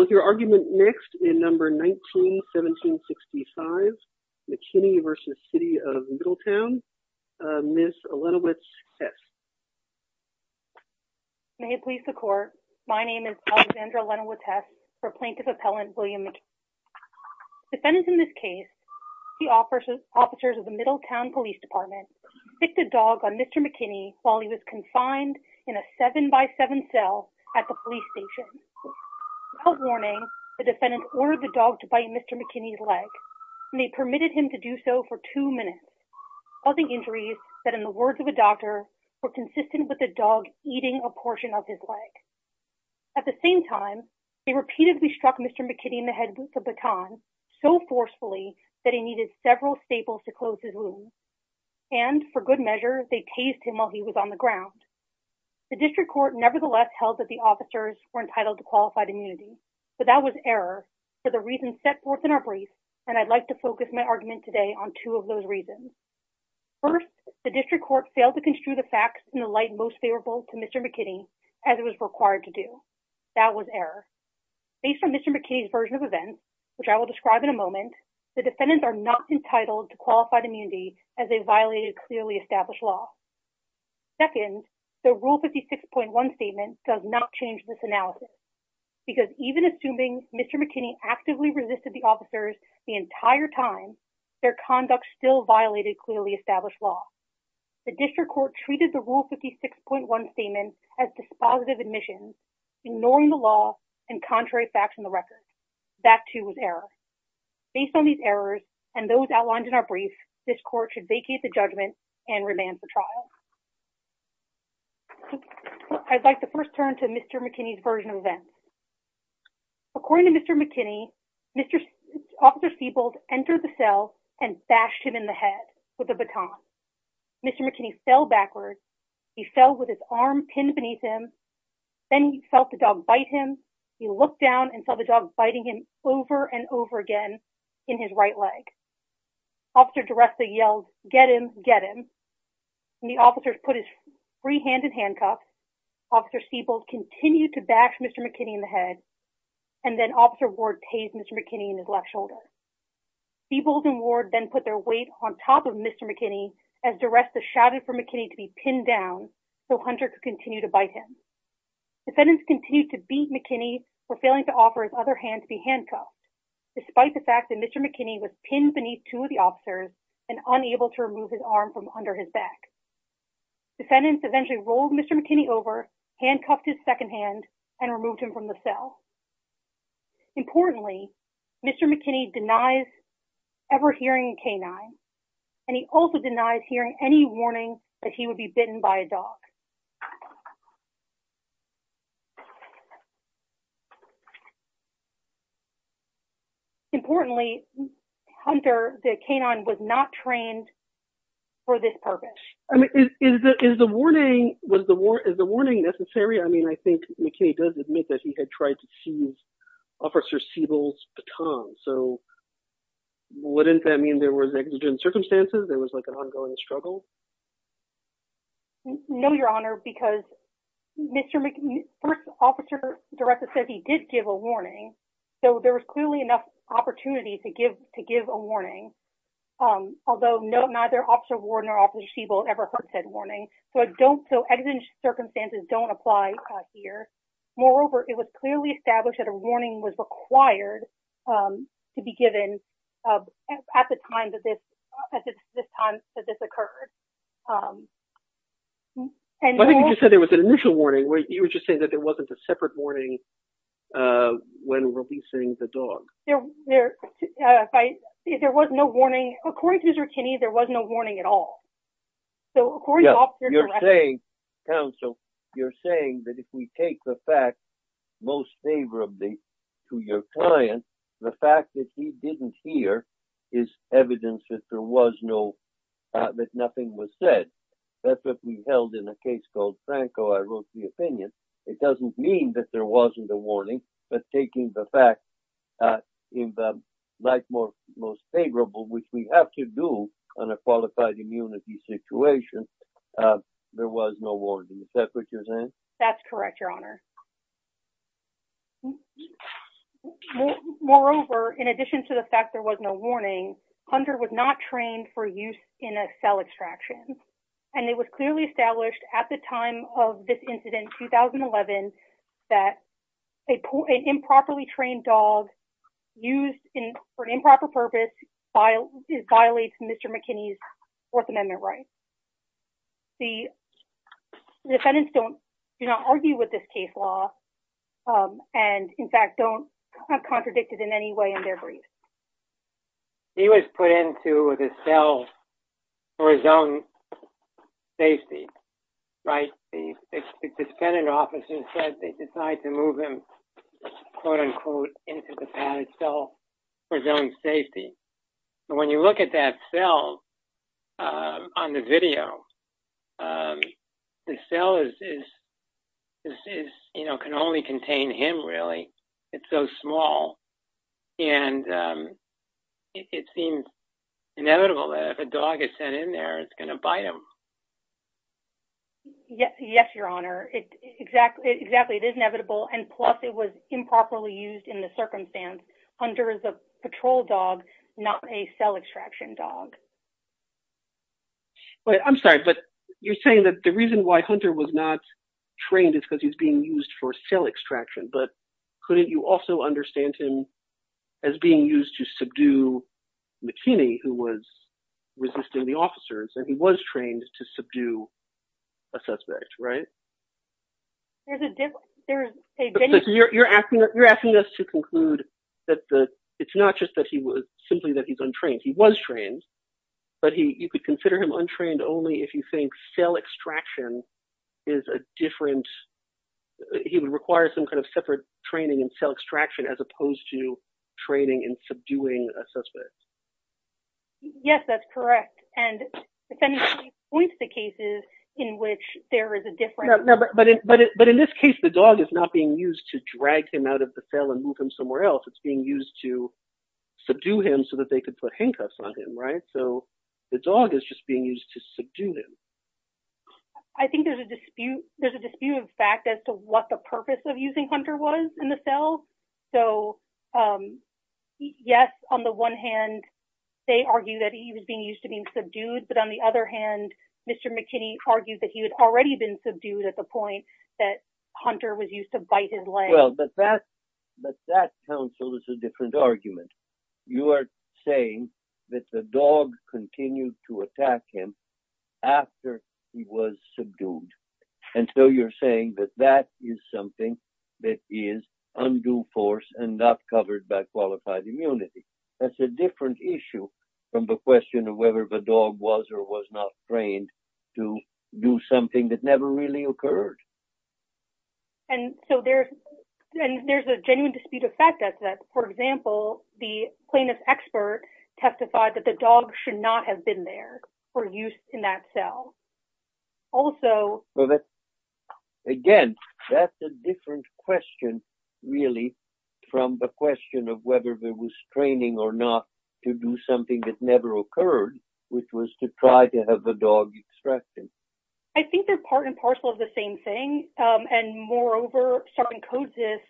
Mr. McKinney v. City of Middletown, Ms. Olenowicz-Hess May it please the Court, my name is Alexandra Olenowicz-Hess for Plaintiff Appellant William McKinney. Defendants in this case, the officers of the Middletown Police Department, picked a dog on Mr. McKinney while he was confined in a 7x7 cell at the police station. Without warning, the defendant ordered the dog to bite Mr. McKinney's leg, and they permitted him to do so for two minutes, causing injuries that, in the words of a doctor, were consistent with the dog eating a portion of his leg. At the same time, they repeatedly struck Mr. McKinney in the head with a baton, so forcefully that he needed several staples to close his wound. And, for good measure, they tased him while he was on the ground. The District Court nevertheless held that the officers were entitled to qualified immunity, but that was error for the reasons set forth in our brief, and I'd like to focus my argument today on two of those reasons. First, the District Court failed to construe the facts in the light most favorable to Mr. McKinney as it was required to do. That was error. Based on Mr. McKinney's version of events, which I will describe in a moment, the defendants are not entitled to qualified immunity as they violated clearly established law. Second, the Rule 56.1 statement does not change this analysis, because even assuming Mr. McKinney actively resisted the officers the entire time, their conduct still violated clearly established law. The District Court treated the Rule 56.1 statement as dispositive admission, ignoring the law and contrary facts in the record. That, too, was error. Based on these errors and those outlined in our brief, this Court should vacate the judgment and remand for trial. I'd like to first turn to Mr. McKinney's version of events. According to Mr. McKinney, Officer Siebels entered the cell and bashed him in the head with a baton. Mr. McKinney fell backwards. He fell with his arm pinned beneath him. Then he felt the dog bite him. He looked down and saw the dog biting him over and over again in his right leg. Officer DiResta yelled, get him, get him. The officers put his free hand in handcuffs. Officer Siebels continued to bash Mr. McKinney in the head, and then Officer Ward tased Mr. McKinney in his left shoulder. Siebels and Ward then put their weight on top of Mr. McKinney as DiResta shouted for McKinney to be pinned down so Hunter could continue to bite him. Defendants continued to beat McKinney for failing to offer his other hand to be handcuffed. Despite the fact that Mr. McKinney was pinned beneath two of the officers and unable to remove his arm from under his back. Defendants eventually rolled Mr. McKinney over, handcuffed his second hand, and removed him from the cell. Importantly, Mr. McKinney denies ever hearing a canine, and he also denies hearing any warning that he would be bitten by a dog. Importantly, Hunter, the canine, was not trained for this purpose. Is the warning necessary? I mean, I think McKinney does admit that he had tried to seize Officer Siebels' baton, so wouldn't that mean there was exigent circumstances, there was like an ongoing struggle? No, Your Honor, because Mr. McKinney, the first officer director said he did give a warning, so there was clearly enough opportunity to give a warning, although neither Officer Warden or Officer Siebel ever heard said warning, so exigent circumstances don't apply here. Moreover, it was clearly established that a warning was required to be given at the time that this occurred. I think you just said there was an initial warning. You were just saying that there wasn't a separate warning when releasing the dog. There was no warning. According to Mr. McKinney, there was no warning at all. Yeah, you're saying, counsel, you're saying that if we take the fact most favorably to your client, the fact that he didn't hear is evidence that there was no, that nothing was said. That's what we held in a case called Franco. I wrote the opinion. It doesn't mean that there wasn't a warning, but taking the fact in the most favorable, which we have to do on a qualified immunity situation, there was no warning. Is that what you're saying? That's correct, Your Honor. Moreover, in addition to the fact there was no warning, Hunter was not trained for use in a cell extraction, and it was clearly established at the time of this incident, 2011, that an improperly trained dog used for an improper purpose violates Mr. McKinney's Fourth Amendment rights. The defendants do not argue with this case law and, in fact, don't have contradicted in any way in their brief. He was put into the cell for his own safety, right? The defendant officer said they decided to move him, quote, unquote, into the padded cell for his own safety. When you look at that cell on the video, the cell can only contain him, really. It's so small, and it seems inevitable that if a dog is sent in there, it's going to bite him. Yes, Your Honor. Exactly. It is inevitable, and plus it was improperly used in the circumstance. Hunter is a patrol dog, not a cell extraction dog. I'm sorry, but you're saying that the reason why Hunter was not trained is because he's being used for cell extraction, but couldn't you also understand him as being used to subdue McKinney, who was resisting the officers, and he was trained to subdue a suspect, right? There's a difference. You're asking us to conclude that it's not just simply that he's untrained. He was trained, but you could consider him untrained only if you think cell extraction is a different – he would require some kind of separate training in cell extraction as opposed to training in subduing a suspect. Yes, that's correct. And it points to cases in which there is a difference. But in this case, the dog is not being used to drag him out of the cell and move him somewhere else. It's being used to subdue him so that they could put handcuffs on him, right? So the dog is just being used to subdue him. I think there's a dispute of fact as to what the purpose of using Hunter was in the cell. So, yes, on the one hand, they argue that he was being used to being subdued, but on the other hand, Mr. McKinney argued that he had already been subdued at the point that Hunter was used to bite his leg. Well, but that counsel is a different argument. You are saying that the dog continued to attack him after he was subdued. And so you're saying that that is something that is undue force and not covered by qualified immunity. That's a different issue from the question of whether the dog was or was not trained to do something that never really occurred. And so there's a genuine dispute of fact that, for example, the plaintiff's expert testified that the dog should not have been there for use in that cell. Again, that's a different question, really, from the question of whether there was training or not to do something that never occurred, which was to try to have the dog extracted. I think they're part and parcel of the same thing. And moreover, Sergeant Kodesis,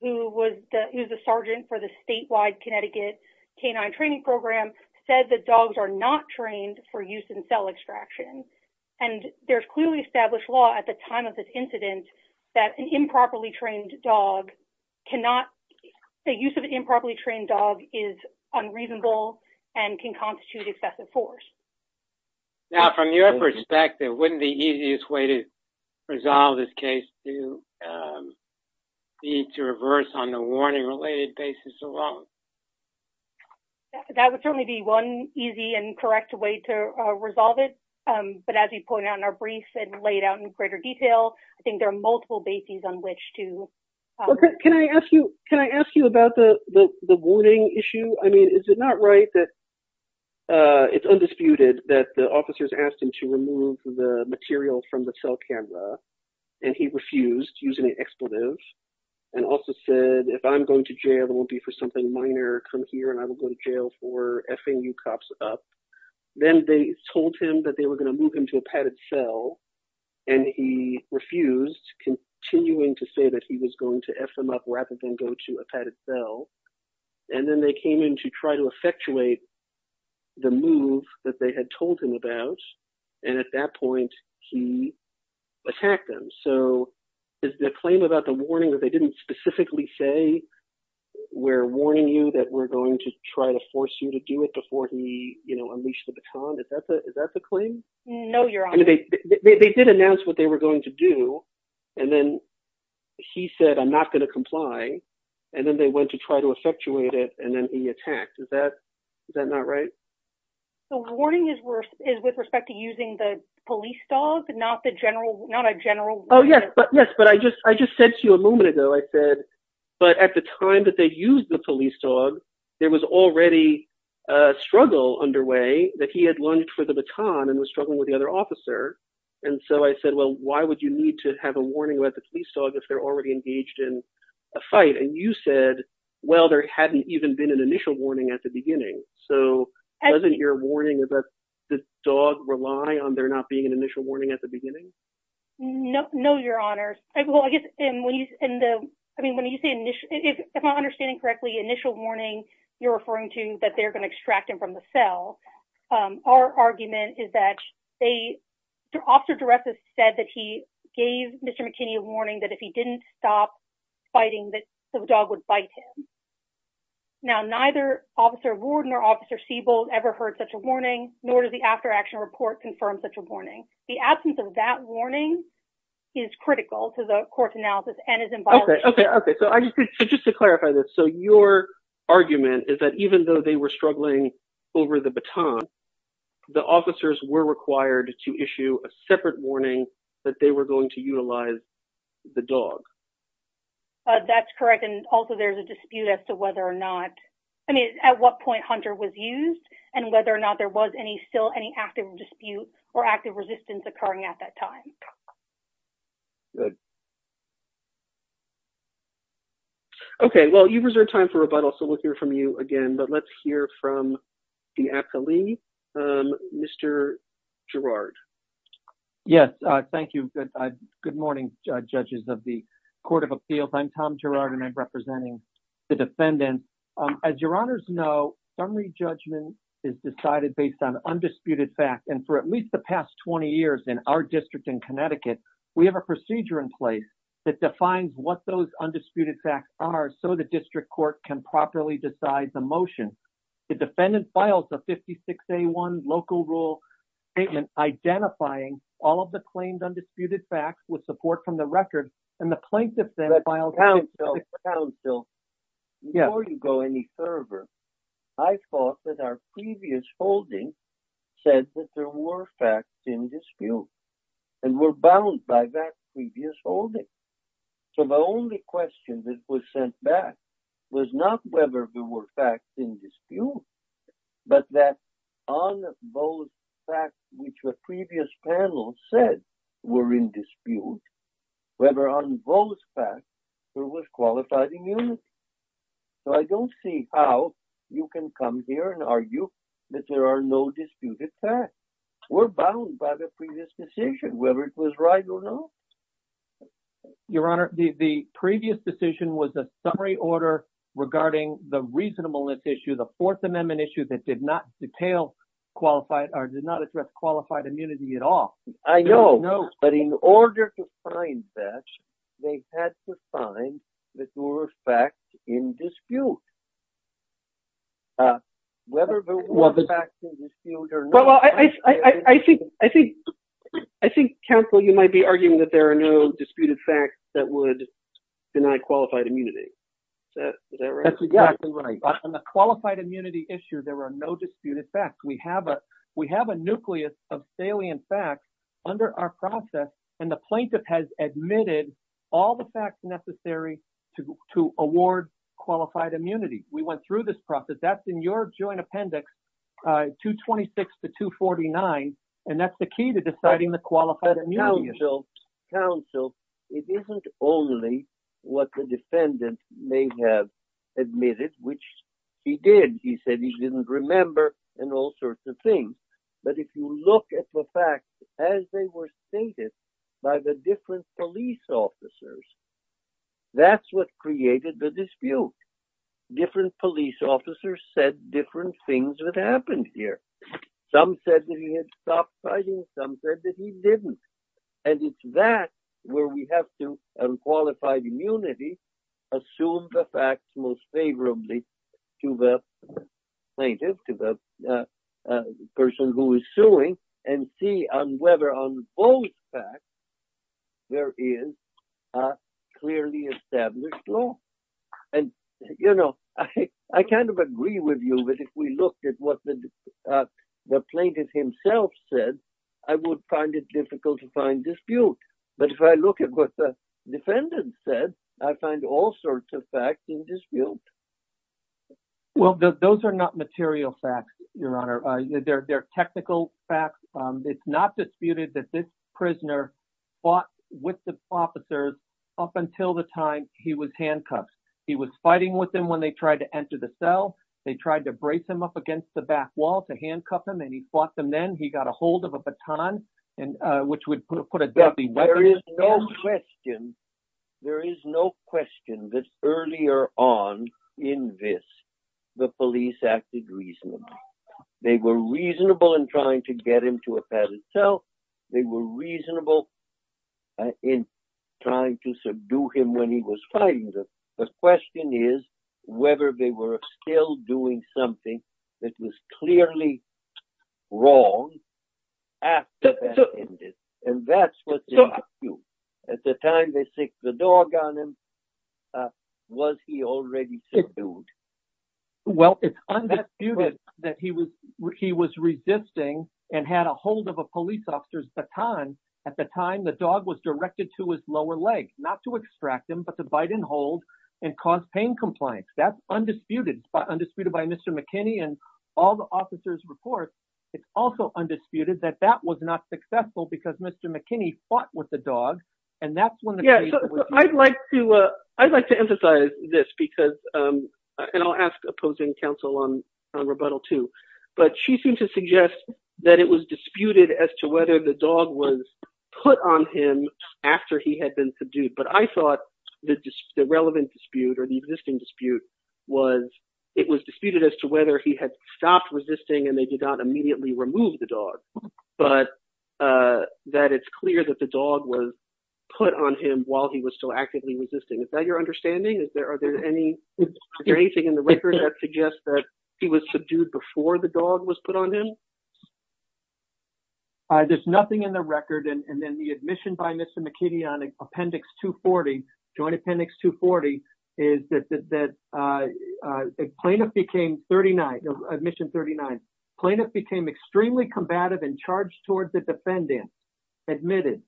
who was the sergeant for the statewide Connecticut K9 training program, said that dogs are not trained for use in cell extraction. And there's clearly established law at the time of this incident that an improperly trained dog cannot – the use of an improperly trained dog is unreasonable and can constitute excessive force. Now, from your perspective, wouldn't the easiest way to resolve this case be to reverse on the warning-related basis alone? That would certainly be one easy and correct way to resolve it. But as you pointed out in our brief and laid out in greater detail, I think there are multiple bases on which to – Can I ask you about the warning issue? I mean, is it not right that it's undisputed that the officers asked him to remove the material from the cell camera, and he refused, using an expletive, and also said, If I'm going to jail, it won't be for something minor. Come here, and I will go to jail for F-ing you cops up. Then they told him that they were going to move him to a padded cell, and he refused, continuing to say that he was going to F them up rather than go to a padded cell. And then they came in to try to effectuate the move that they had told him about, and at that point, he attacked them. So is the claim about the warning that they didn't specifically say, We're warning you that we're going to try to force you to do it before he unleashed the baton, is that the claim? No, Your Honor. They did announce what they were going to do, and then he said, I'm not going to comply. And then they went to try to effectuate it, and then he attacked. Is that not right? The warning is with respect to using the police dog, not a general warning. Yes, but I just said to you a moment ago, I said, But at the time that they used the police dog, there was already a struggle underway that he had lunged for the baton and was struggling with the other officer. And so I said, Well, why would you need to have a warning about the police dog if they're already engaged in a fight? And you said, Well, there hadn't even been an initial warning at the beginning. So doesn't your warning about the dog rely on there not being an initial warning at the beginning? No, Your Honor. I mean, if I'm understanding correctly, initial warning, you're referring to that they're going to extract him from the cell. Our argument is that the officer director said that he gave Mr. McKinney a warning that if he didn't stop fighting that the dog would bite him. Now, neither Officer Warden or Officer Siebel ever heard such a warning, nor does the after action report confirm such a warning. The absence of that warning is critical to the court's analysis and is in violation. Just to clarify this. So your argument is that even though they were struggling over the baton, the officers were required to issue a separate warning that they were going to utilize the dog. That's correct. And also, there's a dispute as to whether or not I mean, at what point Hunter was used and whether or not there was any still any active dispute or active resistance occurring at that time. OK, well, you've reserved time for rebuttal, so we'll hear from you again. But let's hear from the appellee, Mr. Girard. Yes. Thank you. Good morning, judges of the Court of Appeals. I'm Tom Girard and I'm representing the defendants. As your honors know, summary judgment is decided based on undisputed facts. And for at least the past 20 years in our district in Connecticut, we have a procedure in place that defines what those undisputed facts are so the district court can properly decide the motion. The defendant files a 56A1 local rule statement identifying all of the claimed undisputed facts with support from the record and the plaintiff then files. Before you go any further, I thought that our previous holding said that there were facts in dispute and were bound by that previous holding. So the only question that was sent back was not whether there were facts in dispute, but that on those facts which the previous panel said were in dispute, whether on those facts there was qualified immunity. So I don't see how you can come here and argue that there are no disputed facts. We're bound by the previous decision, whether it was right or not. Your Honor, the previous decision was a summary order regarding the reasonableness issue, the Fourth Amendment issue that did not detail qualified or did not address qualified immunity at all. I know, but in order to find that, they had to find that there were facts in dispute. I think, counsel, you might be arguing that there are no disputed facts that would deny qualified immunity. That's exactly right. On the qualified immunity issue, there are no disputed facts. We have a nucleus of salient facts under our process, and the plaintiff has admitted all the facts necessary to award qualified immunity. We went through this process. That's in your joint appendix, 226 to 249, and that's the key to deciding the qualified immunity. Counsel, it isn't only what the defendant may have admitted, which he did. He said he didn't remember and all sorts of things. But if you look at the facts as they were stated by the different police officers, that's what created the dispute. Different police officers said different things that happened here. Some said that he had stopped fighting. Some said that he didn't. And it's that where we have to, on qualified immunity, assume the facts most favorably to the plaintiff, to the person who is suing, and see whether on both facts there is a clearly established law. I kind of agree with you, but if we look at what the plaintiff himself said, I would find it difficult to find dispute. But if I look at what the defendant said, I find all sorts of facts in dispute. Well, those are not material facts, Your Honor. They're technical facts. It's not disputed that this prisoner fought with the officers up until the time he was handcuffed. He was fighting with them when they tried to enter the cell. They tried to brace him up against the back wall to handcuff him, and he fought them then. He got a hold of a baton, which would put a deadly weapon in his hand. There is no question that earlier on in this, the police acted reasonably. They were reasonable in trying to get him to a padded cell. They were reasonable in trying to subdue him when he was fighting them. The question is whether they were still doing something that was clearly wrong after that. And that's what's in dispute. At the time they stick the dog on him, was he already subdued? Well, it's undisputed that he was resisting and had a hold of a police officer's baton. At the time, the dog was directed to his lower leg, not to extract him, but to bite and hold and cause pain compliance. That's undisputed, undisputed by Mr. McKinney and all the officers' reports. It's also undisputed that that was not successful because Mr. McKinney fought with the dog. I'd like to emphasize this, and I'll ask opposing counsel on rebuttal too. But she seems to suggest that it was disputed as to whether the dog was put on him after he had been subdued. But I thought the relevant dispute or the existing dispute was it was disputed as to whether he had stopped resisting and they did not immediately remove the dog. But that it's clear that the dog was put on him while he was still actively resisting. Is that your understanding? Is there anything in the record that suggests that he was subdued before the dog was put on him? There's nothing in the record. And then the admission by Mr. McKinney on Appendix 240, Joint Appendix 240, is that a plaintiff became 39, admission 39. Plaintiff became extremely combative and charged towards the defendant. Admitted.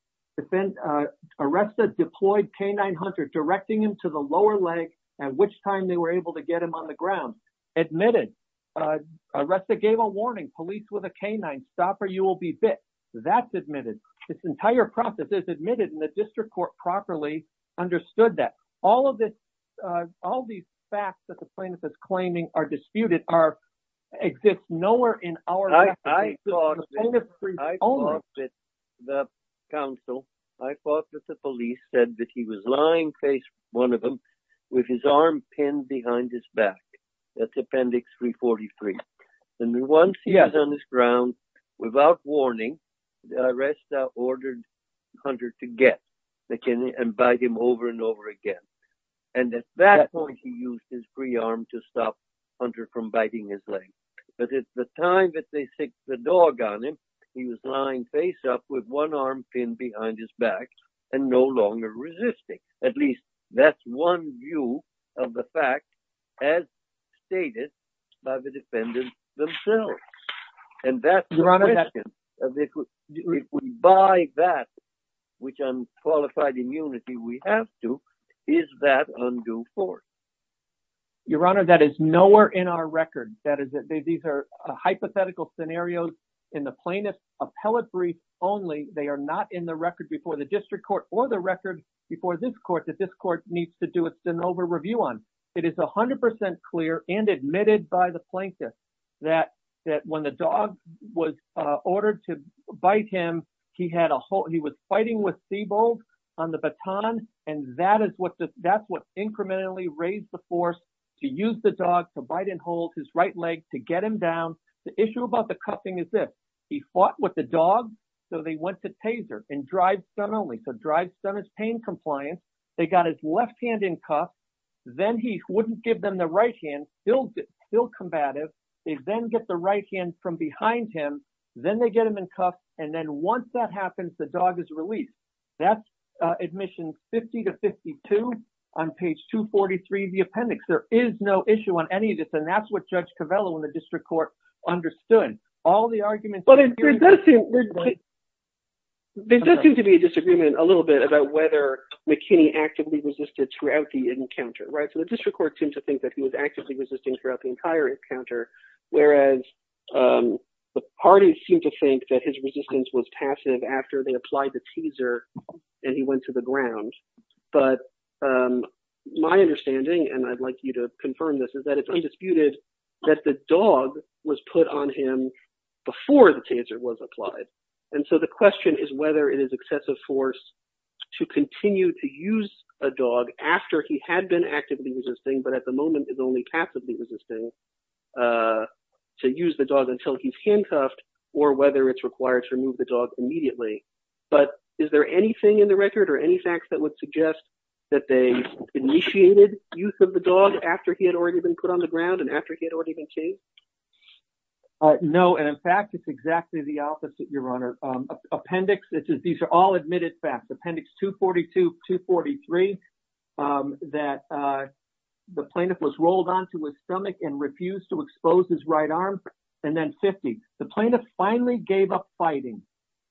Arrested, deployed canine hunter, directing him to the lower leg at which time they were able to get him on the ground. Admitted. Arrested, gave a warning, police with a canine, stop or you will be bit. That's admitted. This entire process is admitted and the district court properly understood that. All of this, all these facts that the plaintiff is claiming are disputed exist nowhere in our record. I thought that the counsel, I thought that the police said that he was lying face one of them with his arm pinned behind his back. That's Appendix 343. And once he was on the ground, without warning, the arrestor ordered Hunter to get McKinney and bite him over and over again. And at that point, he used his free arm to stop Hunter from biting his leg. But it's the time that they stick the dog on him. He was lying face up with one arm pinned behind his back and no longer resisting. At least that's one view of the fact, as stated by the defendants themselves. And that's the question. If we buy that, which unqualified immunity we have to, is that undue force? Your Honor, that is nowhere in our record. These are hypothetical scenarios in the plaintiff appellate brief only. They are not in the record before the district court or the record before this court that this court needs to do an over review on. It is 100 percent clear and admitted by the plaintiff that that when the dog was ordered to bite him, he had a hole. He was fighting with Siebold on the baton, and that is what that's what incrementally raised the force to use the dog to bite and hold his right leg to get him down. The issue about the cuffing is this. He fought with the dog. So they went to taser and drive suddenly the drive centers pain compliance. They got his left hand in cuff. Then he wouldn't give them the right hand. Still combative. They then get the right hand from behind him. Then they get him in cuff. And then once that happens, the dog is released. That's admission 50 to 52 on page 243 of the appendix. There is no issue on any of this. And that's what Judge Covello in the district court understood all the arguments. But there does seem to be a disagreement a little bit about whether McKinney actively resisted throughout the encounter. Right. So the district court seems to think that he was actively resisting throughout the entire encounter, whereas the parties seem to think that his resistance was passive after they applied the teaser. And he went to the ground. But my understanding, and I'd like you to confirm this, is that it's undisputed that the dog was put on him before the taser was applied. And so the question is whether it is excessive force to continue to use a dog after he had been actively resisting, but at the moment is only passively resisting to use the dog until he's handcuffed or whether it's required to remove the dog immediately. But is there anything in the record or any facts that would suggest that they initiated use of the dog after he had already been put on the ground and after he had already been chased? No. And in fact, it's exactly the opposite, Your Honor. Appendix. These are all admitted facts. Appendix 242, 243, that the plaintiff was rolled onto his stomach and refused to expose his right arm. And then 50. The plaintiff finally gave up fighting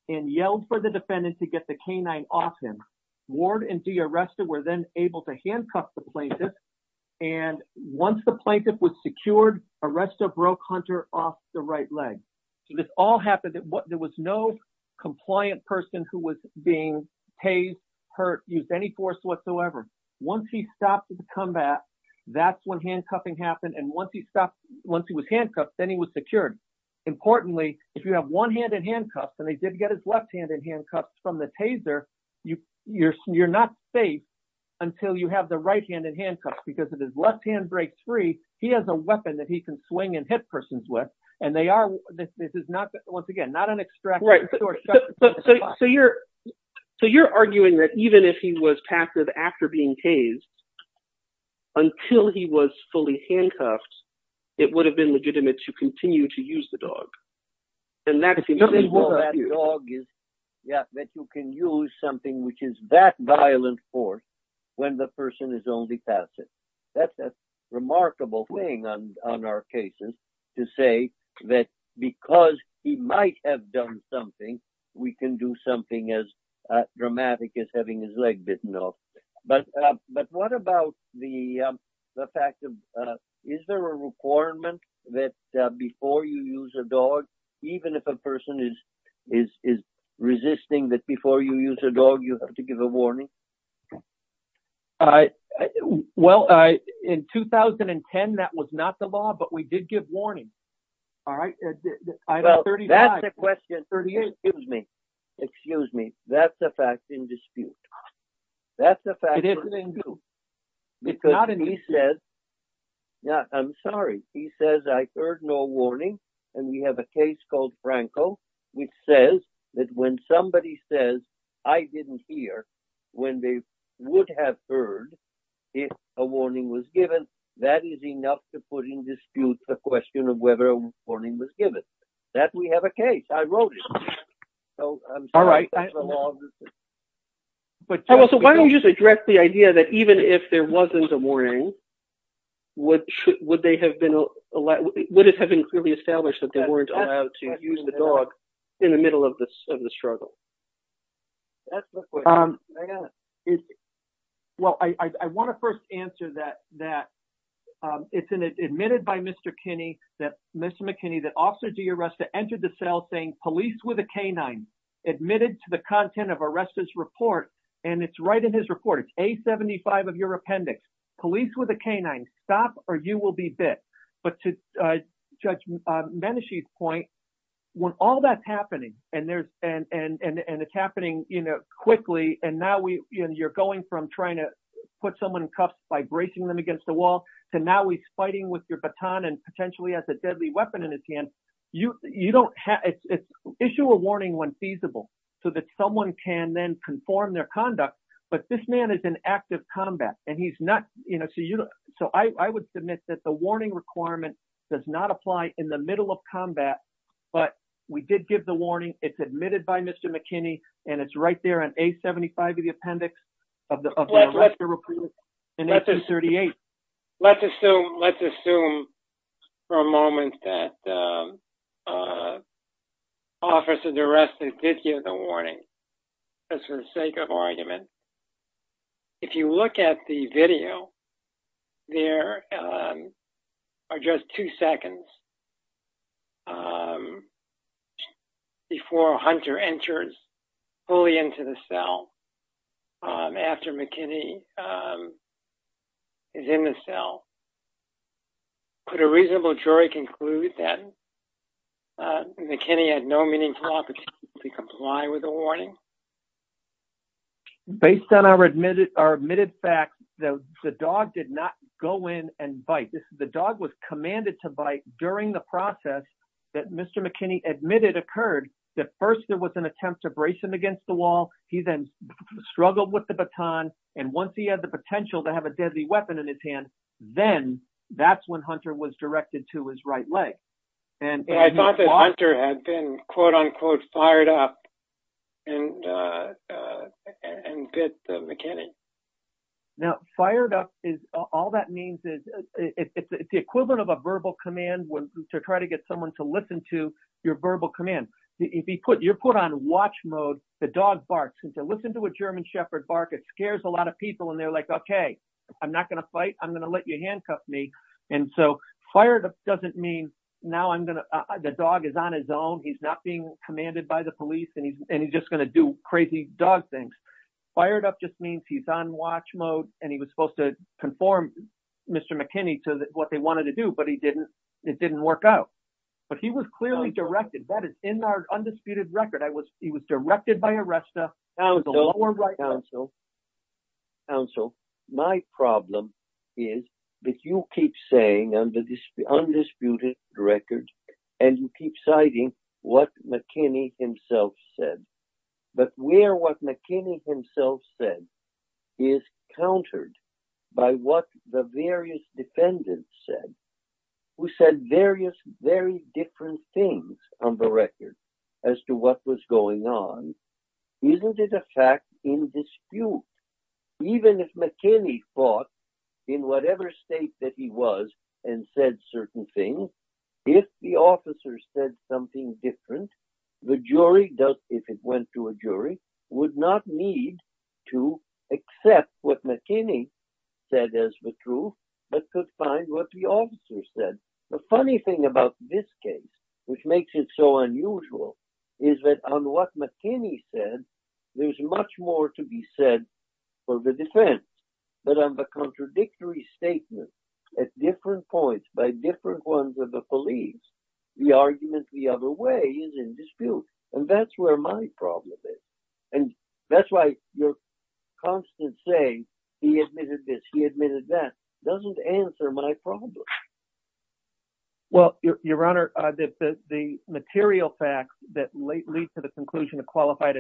and yelled for the defendant to get the canine off him. Ward and de-arrested were then able to handcuff the plaintiff. And once the plaintiff was secured, arrestor broke Hunter off the right leg. So this all happened. There was no compliant person who was being tased, hurt, used any force whatsoever. Once he stopped the combat, that's when handcuffing happened. And once he was handcuffed, then he was secured. Importantly, if you have one hand in handcuffs and they did get his left hand in handcuffs from the taser, you're not safe until you have the right hand in handcuffs. Because if his left hand breaks free, he has a weapon that he can swing and hit persons with. And they are, this is not, once again, not an extraction. So you're arguing that even if he was passive after being tased, until he was fully handcuffed, it would have been legitimate to continue to use the dog. Yeah, that you can use something which is that violent force when the person is only passive. That's a remarkable thing on our cases to say that because he might have done something, we can do something as dramatic as having his leg bitten off. But what about the fact of, is there a requirement that before you use a dog, even if a person is resisting, that before you use a dog, you have to give a warning? Well, in 2010, that was not the law, but we did give warning. Well, that's the question. Excuse me. Excuse me. That's a fact in dispute. It isn't in dispute. I'm sorry. He says, I heard no warning. And we have a case called Franco, which says that when somebody says, I didn't hear, when they would have heard if a warning was given, that is enough to put in dispute the question of whether a warning was given. That we have a case. I wrote it. All right. So why don't you just address the idea that even if there wasn't a warning, would it have been clearly established that they weren't allowed to use the dog in the middle of the struggle? That's the question. Well, I want to first answer that, that it's an admitted by Mr. Kinney, that Mr. McKinney, that also do your rest to enter the cell saying police with a canine admitted to the content of arrest this report. And it's right in his report. It's a seventy five of your appendix police with a canine stop or you will be bit. But to judge Beneshe point when all that's happening and there's and it's happening quickly. And you're going from trying to put someone in cuffs by bracing them against the wall to now he's fighting with your baton and potentially has a deadly weapon in his hand. You don't issue a warning when feasible so that someone can then conform their conduct. But this man is an active combat and he's not. So I would submit that the warning requirement does not apply in the middle of combat. But we did give the warning. It's admitted by Mr. McKinney. And it's right there on a seventy five of the appendix. Let's assume. Let's assume for a moment that officers arrested. Did you have the warning for the sake of argument? If you look at the video, there are just two seconds. Before Hunter enters fully into the cell after McKinney is in the cell. Put a reasonable jury conclude that McKinney had no meaningful opportunity to comply with the warning. Based on our admitted our admitted fact that the dog did not go in and bite the dog was commanded to bite during the process that Mr. McKinney admitted occurred that first there was an attempt to brace him against the wall. He then struggled with the baton. And once he had the potential to have a deadly weapon in his hand, then that's when Hunter was directed to his right leg. I thought that Hunter had been, quote unquote, fired up and bit McKinney. Now, fired up is all that means is it's the equivalent of a verbal command to try to get someone to listen to your verbal command. If you put your foot on watch mode, the dog barks and to listen to a German shepherd bark. It scares a lot of people. And they're like, OK, I'm not going to fight. I'm going to let you handcuff me. And so fired up doesn't mean now I'm going to the dog is on his own. He's not being commanded by the police and he's just going to do crazy dog things. Fired up just means he's on watch mode and he was supposed to conform Mr. McKinney to what they wanted to do. But he didn't. It didn't work out. But he was clearly directed that is in our undisputed record. I was he was directed by Arresta. So. Even if McKinney fought in whatever state that he was and said certain things, if the officers said something different, the jury, if it went to a jury, would not need to accept what McKinney said as the truth, but could find what the officers said. The funny thing about this case, which makes it so unusual, is that on what McKinney said, there's much more to be said for the defense. But on the contradictory statement at different points by different ones with the police, the argument the other way is in dispute. And that's where my problem is. And that's why your constant saying he admitted this, he admitted that doesn't answer my problem. Well, your Honor, the material facts that lead to the conclusion of qualified.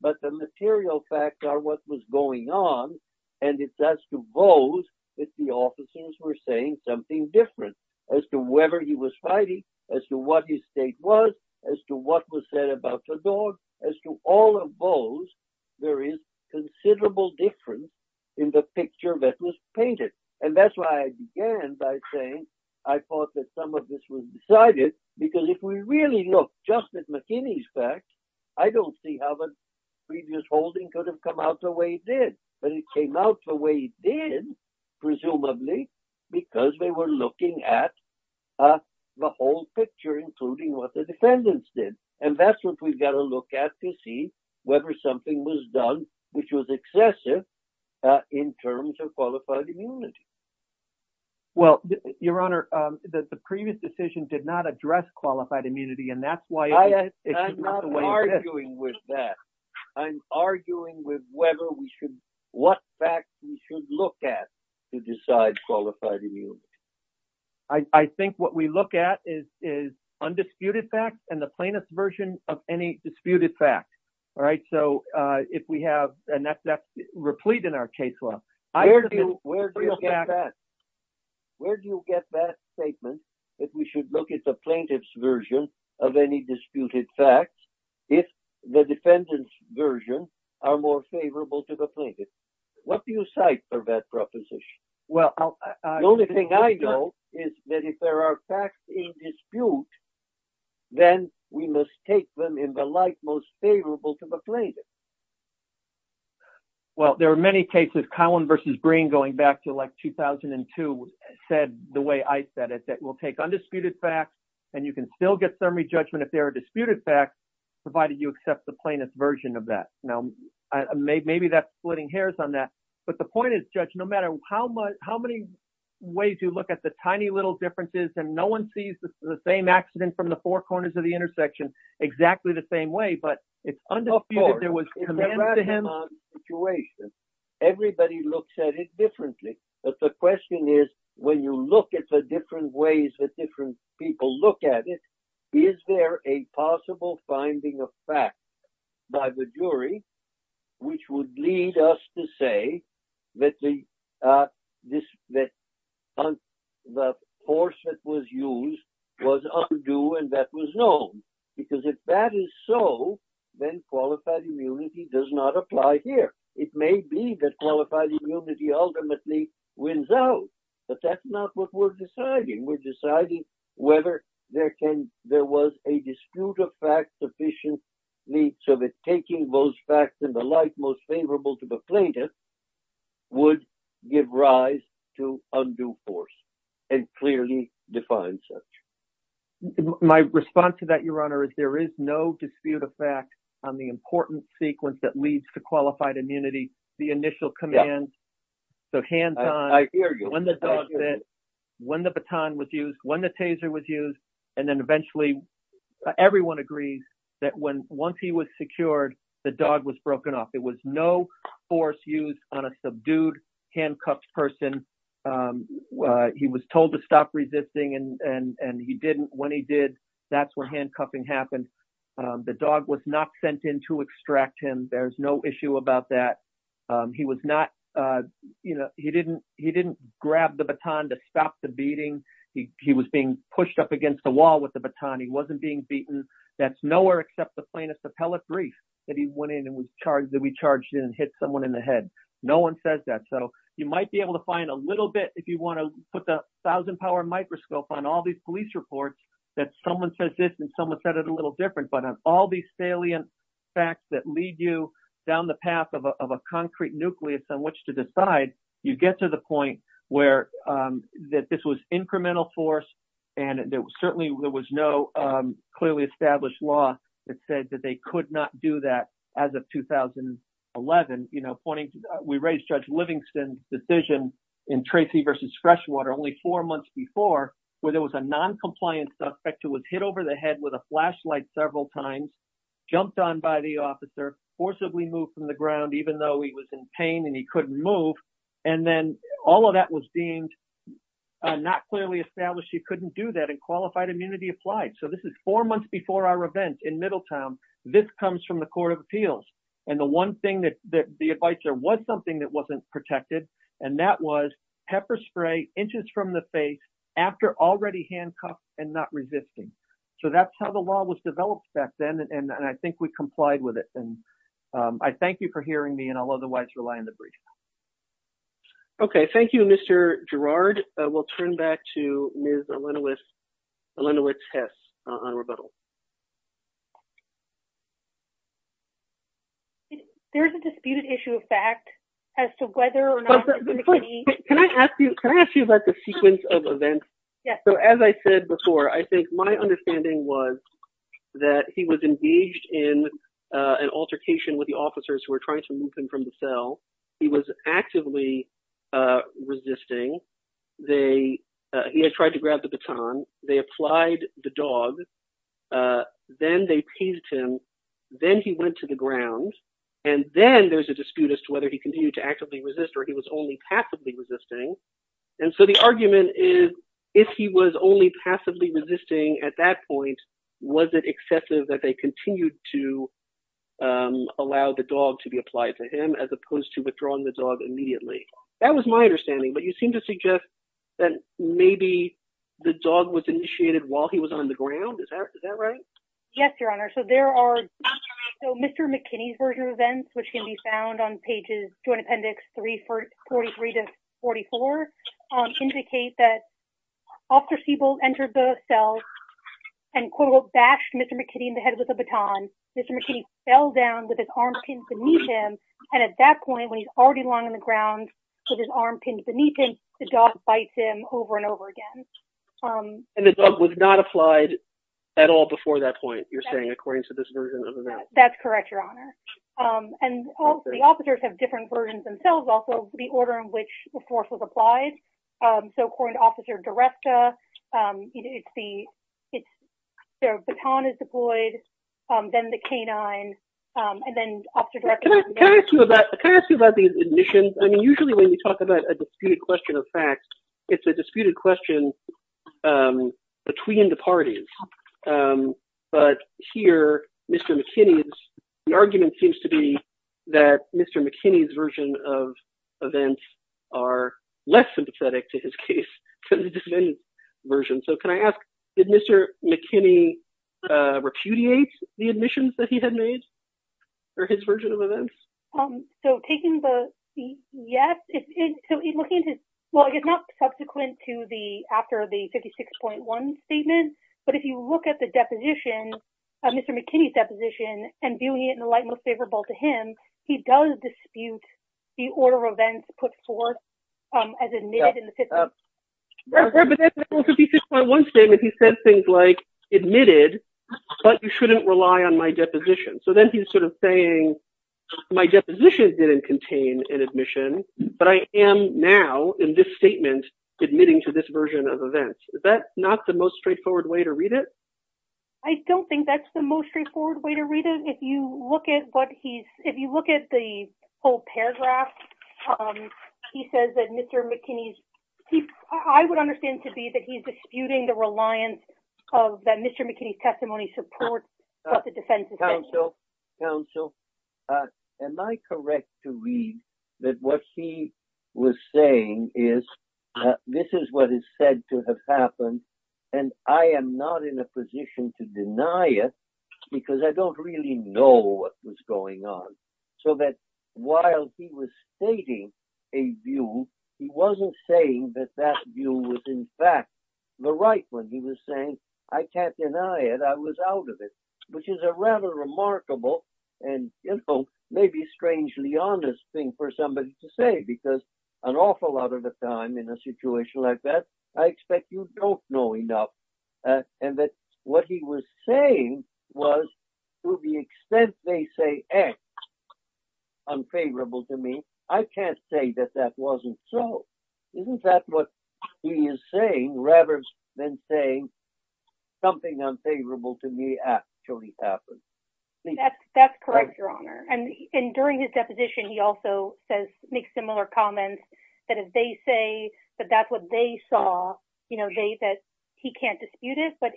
But the material facts are what was going on. And it's as to those that the officers were saying something different as to whether he was fighting, as to what his state was, as to what was said about the dog. As to all of those, there is considerable difference in the picture that was painted. And that's why I began by saying I thought that some of this was decided, because if we really look just at McKinney's facts, I don't see how the previous holding could have come out the way it did. But it came out the way it did, presumably because they were looking at the whole picture, including what the defendants did. And that's what we've got to look at to see whether something was done, which was excessive in terms of qualified immunity. Well, your Honor, the previous decision did not address qualified immunity, and that's why. I'm not arguing with that. I'm arguing with whether we should, what facts we should look at to decide qualified immunity. I think what we look at is undisputed facts and the plaintiff's version of any disputed facts. All right. So if we have, and that's replete in our case law. Where do you get that statement that we should look at the plaintiff's version of any disputed facts if the defendant's version are more favorable to the plaintiff? What do you cite for that proposition? Well, the only thing I know is that if there are facts in dispute, then we must take them in the light most favorable to the plaintiff. Well, there are many cases, Collin versus Green, going back to like 2002, said the way I said it, that will take undisputed facts and you can still get summary judgment if there are disputed facts, provided you accept the plaintiff's version of that. Now, maybe that's splitting hairs on that. But the point is, Judge, no matter how much, how many ways you look at the tiny little differences and no one sees the same accident from the four corners of the intersection exactly the same way. But if there was a situation, everybody looks at it differently. But the question is, when you look at the different ways that different people look at it, is there a possible finding of facts by the jury, which would lead us to say that the force that was used was undue and that was known? Because if that is so, then qualified immunity does not apply here. It may be that qualified immunity ultimately wins out, but that's not what we're deciding. We're deciding whether there was a dispute of facts sufficiently so that taking those facts in the light most favorable to the plaintiff would give rise to undue force and clearly define such. My response to that, Your Honor, is there is no dispute of fact on the important sequence that leads to qualified immunity, the initial command. So hands on, when the dog bit, when the baton was used, when the taser was used, and then eventually everyone agrees that when once he was secured, the dog was broken off. There was no force used on a subdued, handcuffed person. He was told to stop resisting, and he didn't. When he did, that's when handcuffing happened. The dog was not sent in to extract him. There's no issue about that. He was not, you know, he didn't grab the baton to stop the beating. He was being pushed up against the wall with the baton. He wasn't being beaten. That's nowhere except the plaintiff's appellate brief that he went in and was charged, that we charged him and hit someone in the head. No one says that. So you might be able to find a little bit, if you want to put the thousand power microscope on all these police reports, that someone says this and someone said it a little different. But on all these salient facts that lead you down the path of a concrete nucleus on which to decide, you get to the point where that this was incremental force. And certainly there was no clearly established law that said that they could not do that as of 2011. We raised Judge Livingston's decision in Tracy versus Freshwater only four months before, where there was a noncompliant suspect who was hit over the head with a flashlight several times, jumped on by the officer, forcibly moved from the ground, even though he was in pain and he couldn't move. And then all of that was deemed not clearly established he couldn't do that, and qualified immunity applied. So this is four months before our event in Middletown. This comes from the Court of Appeals. And the one thing that the advisor was something that wasn't protected. And that was pepper spray inches from the face after already handcuffed and not resisting. So that's how the law was developed back then. And I think we complied with it. And I thank you for hearing me and I'll otherwise rely on the brief. Okay, thank you, Mr. Gerard. We'll turn back to Ms. Alenowicz-Hess on rebuttal. There's a disputed issue of fact as to whether or not. Can I ask you about the sequence of events? As I said before, I think my understanding was that he was engaged in an altercation with the officers who were trying to move him from the cell. He was actively resisting. He had tried to grab the baton. They applied the dog. Then they teased him. Then he went to the ground. And then there's a dispute as to whether he continued to actively resist or he was only passively resisting. And so the argument is if he was only passively resisting at that point, was it excessive that they continued to allow the dog to be applied to him as opposed to withdrawing the dog immediately? That was my understanding. But you seem to suggest that maybe the dog was initiated while he was on the ground. Is that right? Yes, Your Honor. So there are – so Mr. McKinney's version of events, which can be found on pages, Joint Appendix 343 to 44, indicate that Officer Siebold entered the cell and, quote, unquote, bashed Mr. McKinney in the head with a baton. Mr. McKinney fell down with his arm pinned beneath him. And at that point, when he's already lying on the ground with his arm pinned beneath him, the dog bites him over and over again. And the dog was not applied at all before that point, you're saying, according to this version of events? That's correct, Your Honor. And the officers have different versions themselves, also, the order in which the force was applied. So according to Officer DiResta, it's the – their baton is deployed, then the canine, and then Officer DiResta – Can I ask you about these admissions? I mean, usually when you talk about a disputed question of facts, it's a disputed question between the parties. But here, Mr. McKinney's – the argument seems to be that Mr. McKinney's version of events are less sympathetic to his case than the defendant's version. So can I ask, did Mr. McKinney repudiate the admissions that he had made for his version of events? So taking the – yes, so in looking at his – well, I guess not subsequent to the – after the 56.1 statement, but if you look at the deposition, Mr. McKinney's deposition, and viewing it in the light most favorable to him, he does dispute the order of events put forth as admitted in the 56.1. But in the 56.1 statement, he said things like, admitted, but you shouldn't rely on my deposition. So then he's sort of saying, my deposition didn't contain an admission, but I am now, in this statement, admitting to this version of events. Is that not the most straightforward way to read it? I don't think that's the most straightforward way to read it. If you look at what he's – if you look at the whole paragraph, he says that Mr. McKinney's – I would understand to be that he's disputing the reliance of that Mr. McKinney's testimony supports what the defense is saying. Counsel, counsel, am I correct to read that what he was saying is, this is what is said to have happened, and I am not in a position to deny it, because I don't really know what was going on. So that while he was stating a view, he wasn't saying that that view was in fact the right one. He was saying, I can't deny it. I was out of it, which is a rather remarkable and, you know, maybe strangely honest thing for somebody to say, because an awful lot of the time in a situation like that, I expect you don't know enough. And that what he was saying was, to the extent they say X, unfavorable to me, I can't say that that wasn't so. Isn't that what he is saying, rather than saying something unfavorable to me actually happened? That's correct, Your Honor. And during his deposition, he also says – makes similar comments that if they say that that's what they saw, you know, that he can't dispute it. But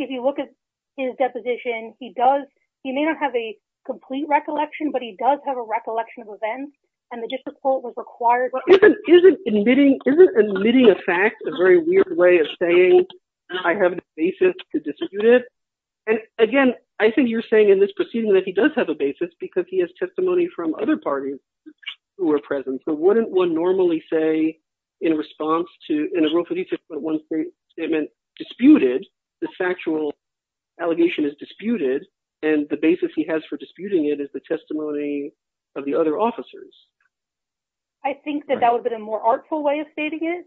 if you look at his deposition, he does – he may not have a complete recollection, but he does have a recollection of events, and the district court was required – Isn't admitting a fact a very weird way of saying I have a basis to dispute it? And again, I think you're saying in this proceeding that he does have a basis because he has testimony from other parties who are present. So wouldn't one normally say in response to – in a Rule 55.1 statement, disputed, the factual allegation is disputed, and the basis he has for disputing it is the testimony of the other officers? I think that that would have been a more artful way of stating it.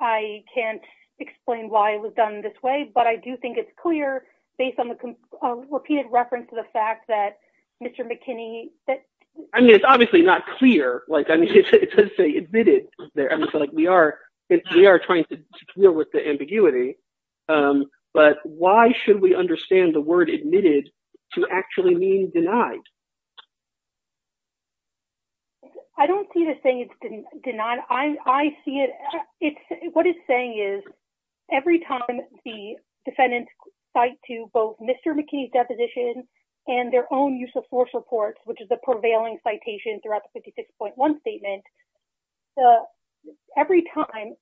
I can't explain why it was done this way, but I do think it's clear, based on the repeated reference to the fact that Mr. McKinney – I mean, it's obviously not clear. Like, I mean, it doesn't say admitted there. I mean, so, like, we are trying to deal with the ambiguity. But why should we understand the word admitted to actually mean denied? I don't see the saying it's denied. I see it – it's – what it's saying is every time the defendants cite to both Mr. McKinney's deposition and their own use of force reports, which is a prevailing citation throughout the 56.1 statement, every time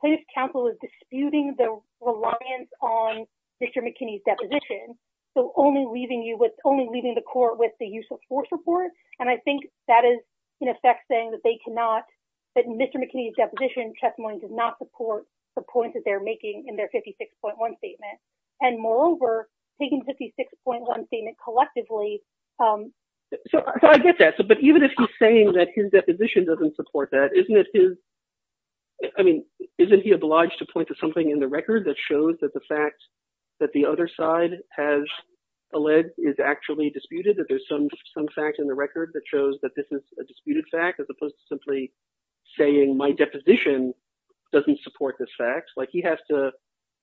plaintiff's counsel is disputing the reliance on Mr. McKinney's deposition. So only leaving you with – only leaving the court with the use of force report. And I think that is, in effect, saying that they cannot – that Mr. McKinney's deposition testimony does not support the points that they're making in their 56.1 statement. And moreover, taking 56.1 statement collectively – So I get that. But even if he's saying that his deposition doesn't support that, isn't it his – I mean, isn't he obliged to point to something in the record that shows that the fact that the other side has alleged is actually disputed, that there's some fact in the record that shows that this is a disputed fact as opposed to simply saying my deposition doesn't support this fact? Like, he has to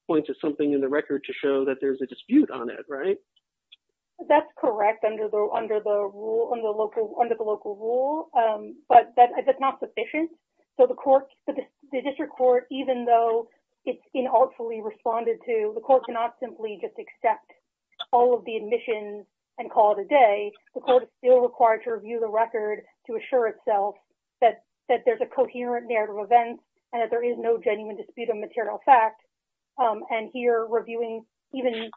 point to something in the record to show that there's a dispute on it, right? That's correct, under the local rule. But that's not sufficient. So the court – the district court, even though it's inartfully responded to, the court cannot simply just accept all of the admissions and call it a day. The court is still required to review the record to assure itself that there's a coherent narrative event and that there is no genuine dispute of material fact. And here, reviewing even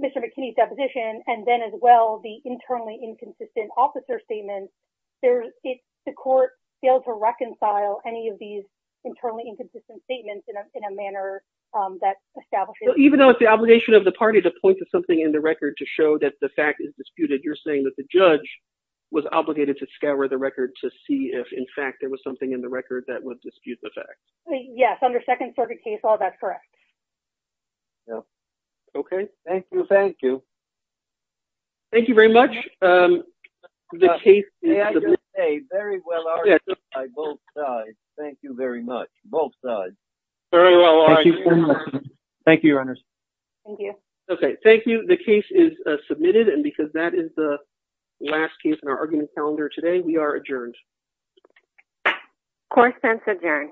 Mr. McKinney's deposition and then as well the internally inconsistent officer statement, if the court fails to reconcile any of these internally inconsistent statements in a manner that establishes – Even though it's the obligation of the party to point to something in the record to show that the fact is disputed, you're saying that the judge was obligated to scour the record to see if, in fact, there was something in the record that would dispute the fact. Yes, under second circuit case law, that's correct. Okay, thank you, thank you. Thank you very much. The case is – Very well argued by both sides. Thank you very much, both sides. Very well argued. Thank you very much. Thank you, your honors. Thank you. Okay, thank you. The case is submitted and because that is the last case in our argument calendar today, we are adjourned. Court is adjourned.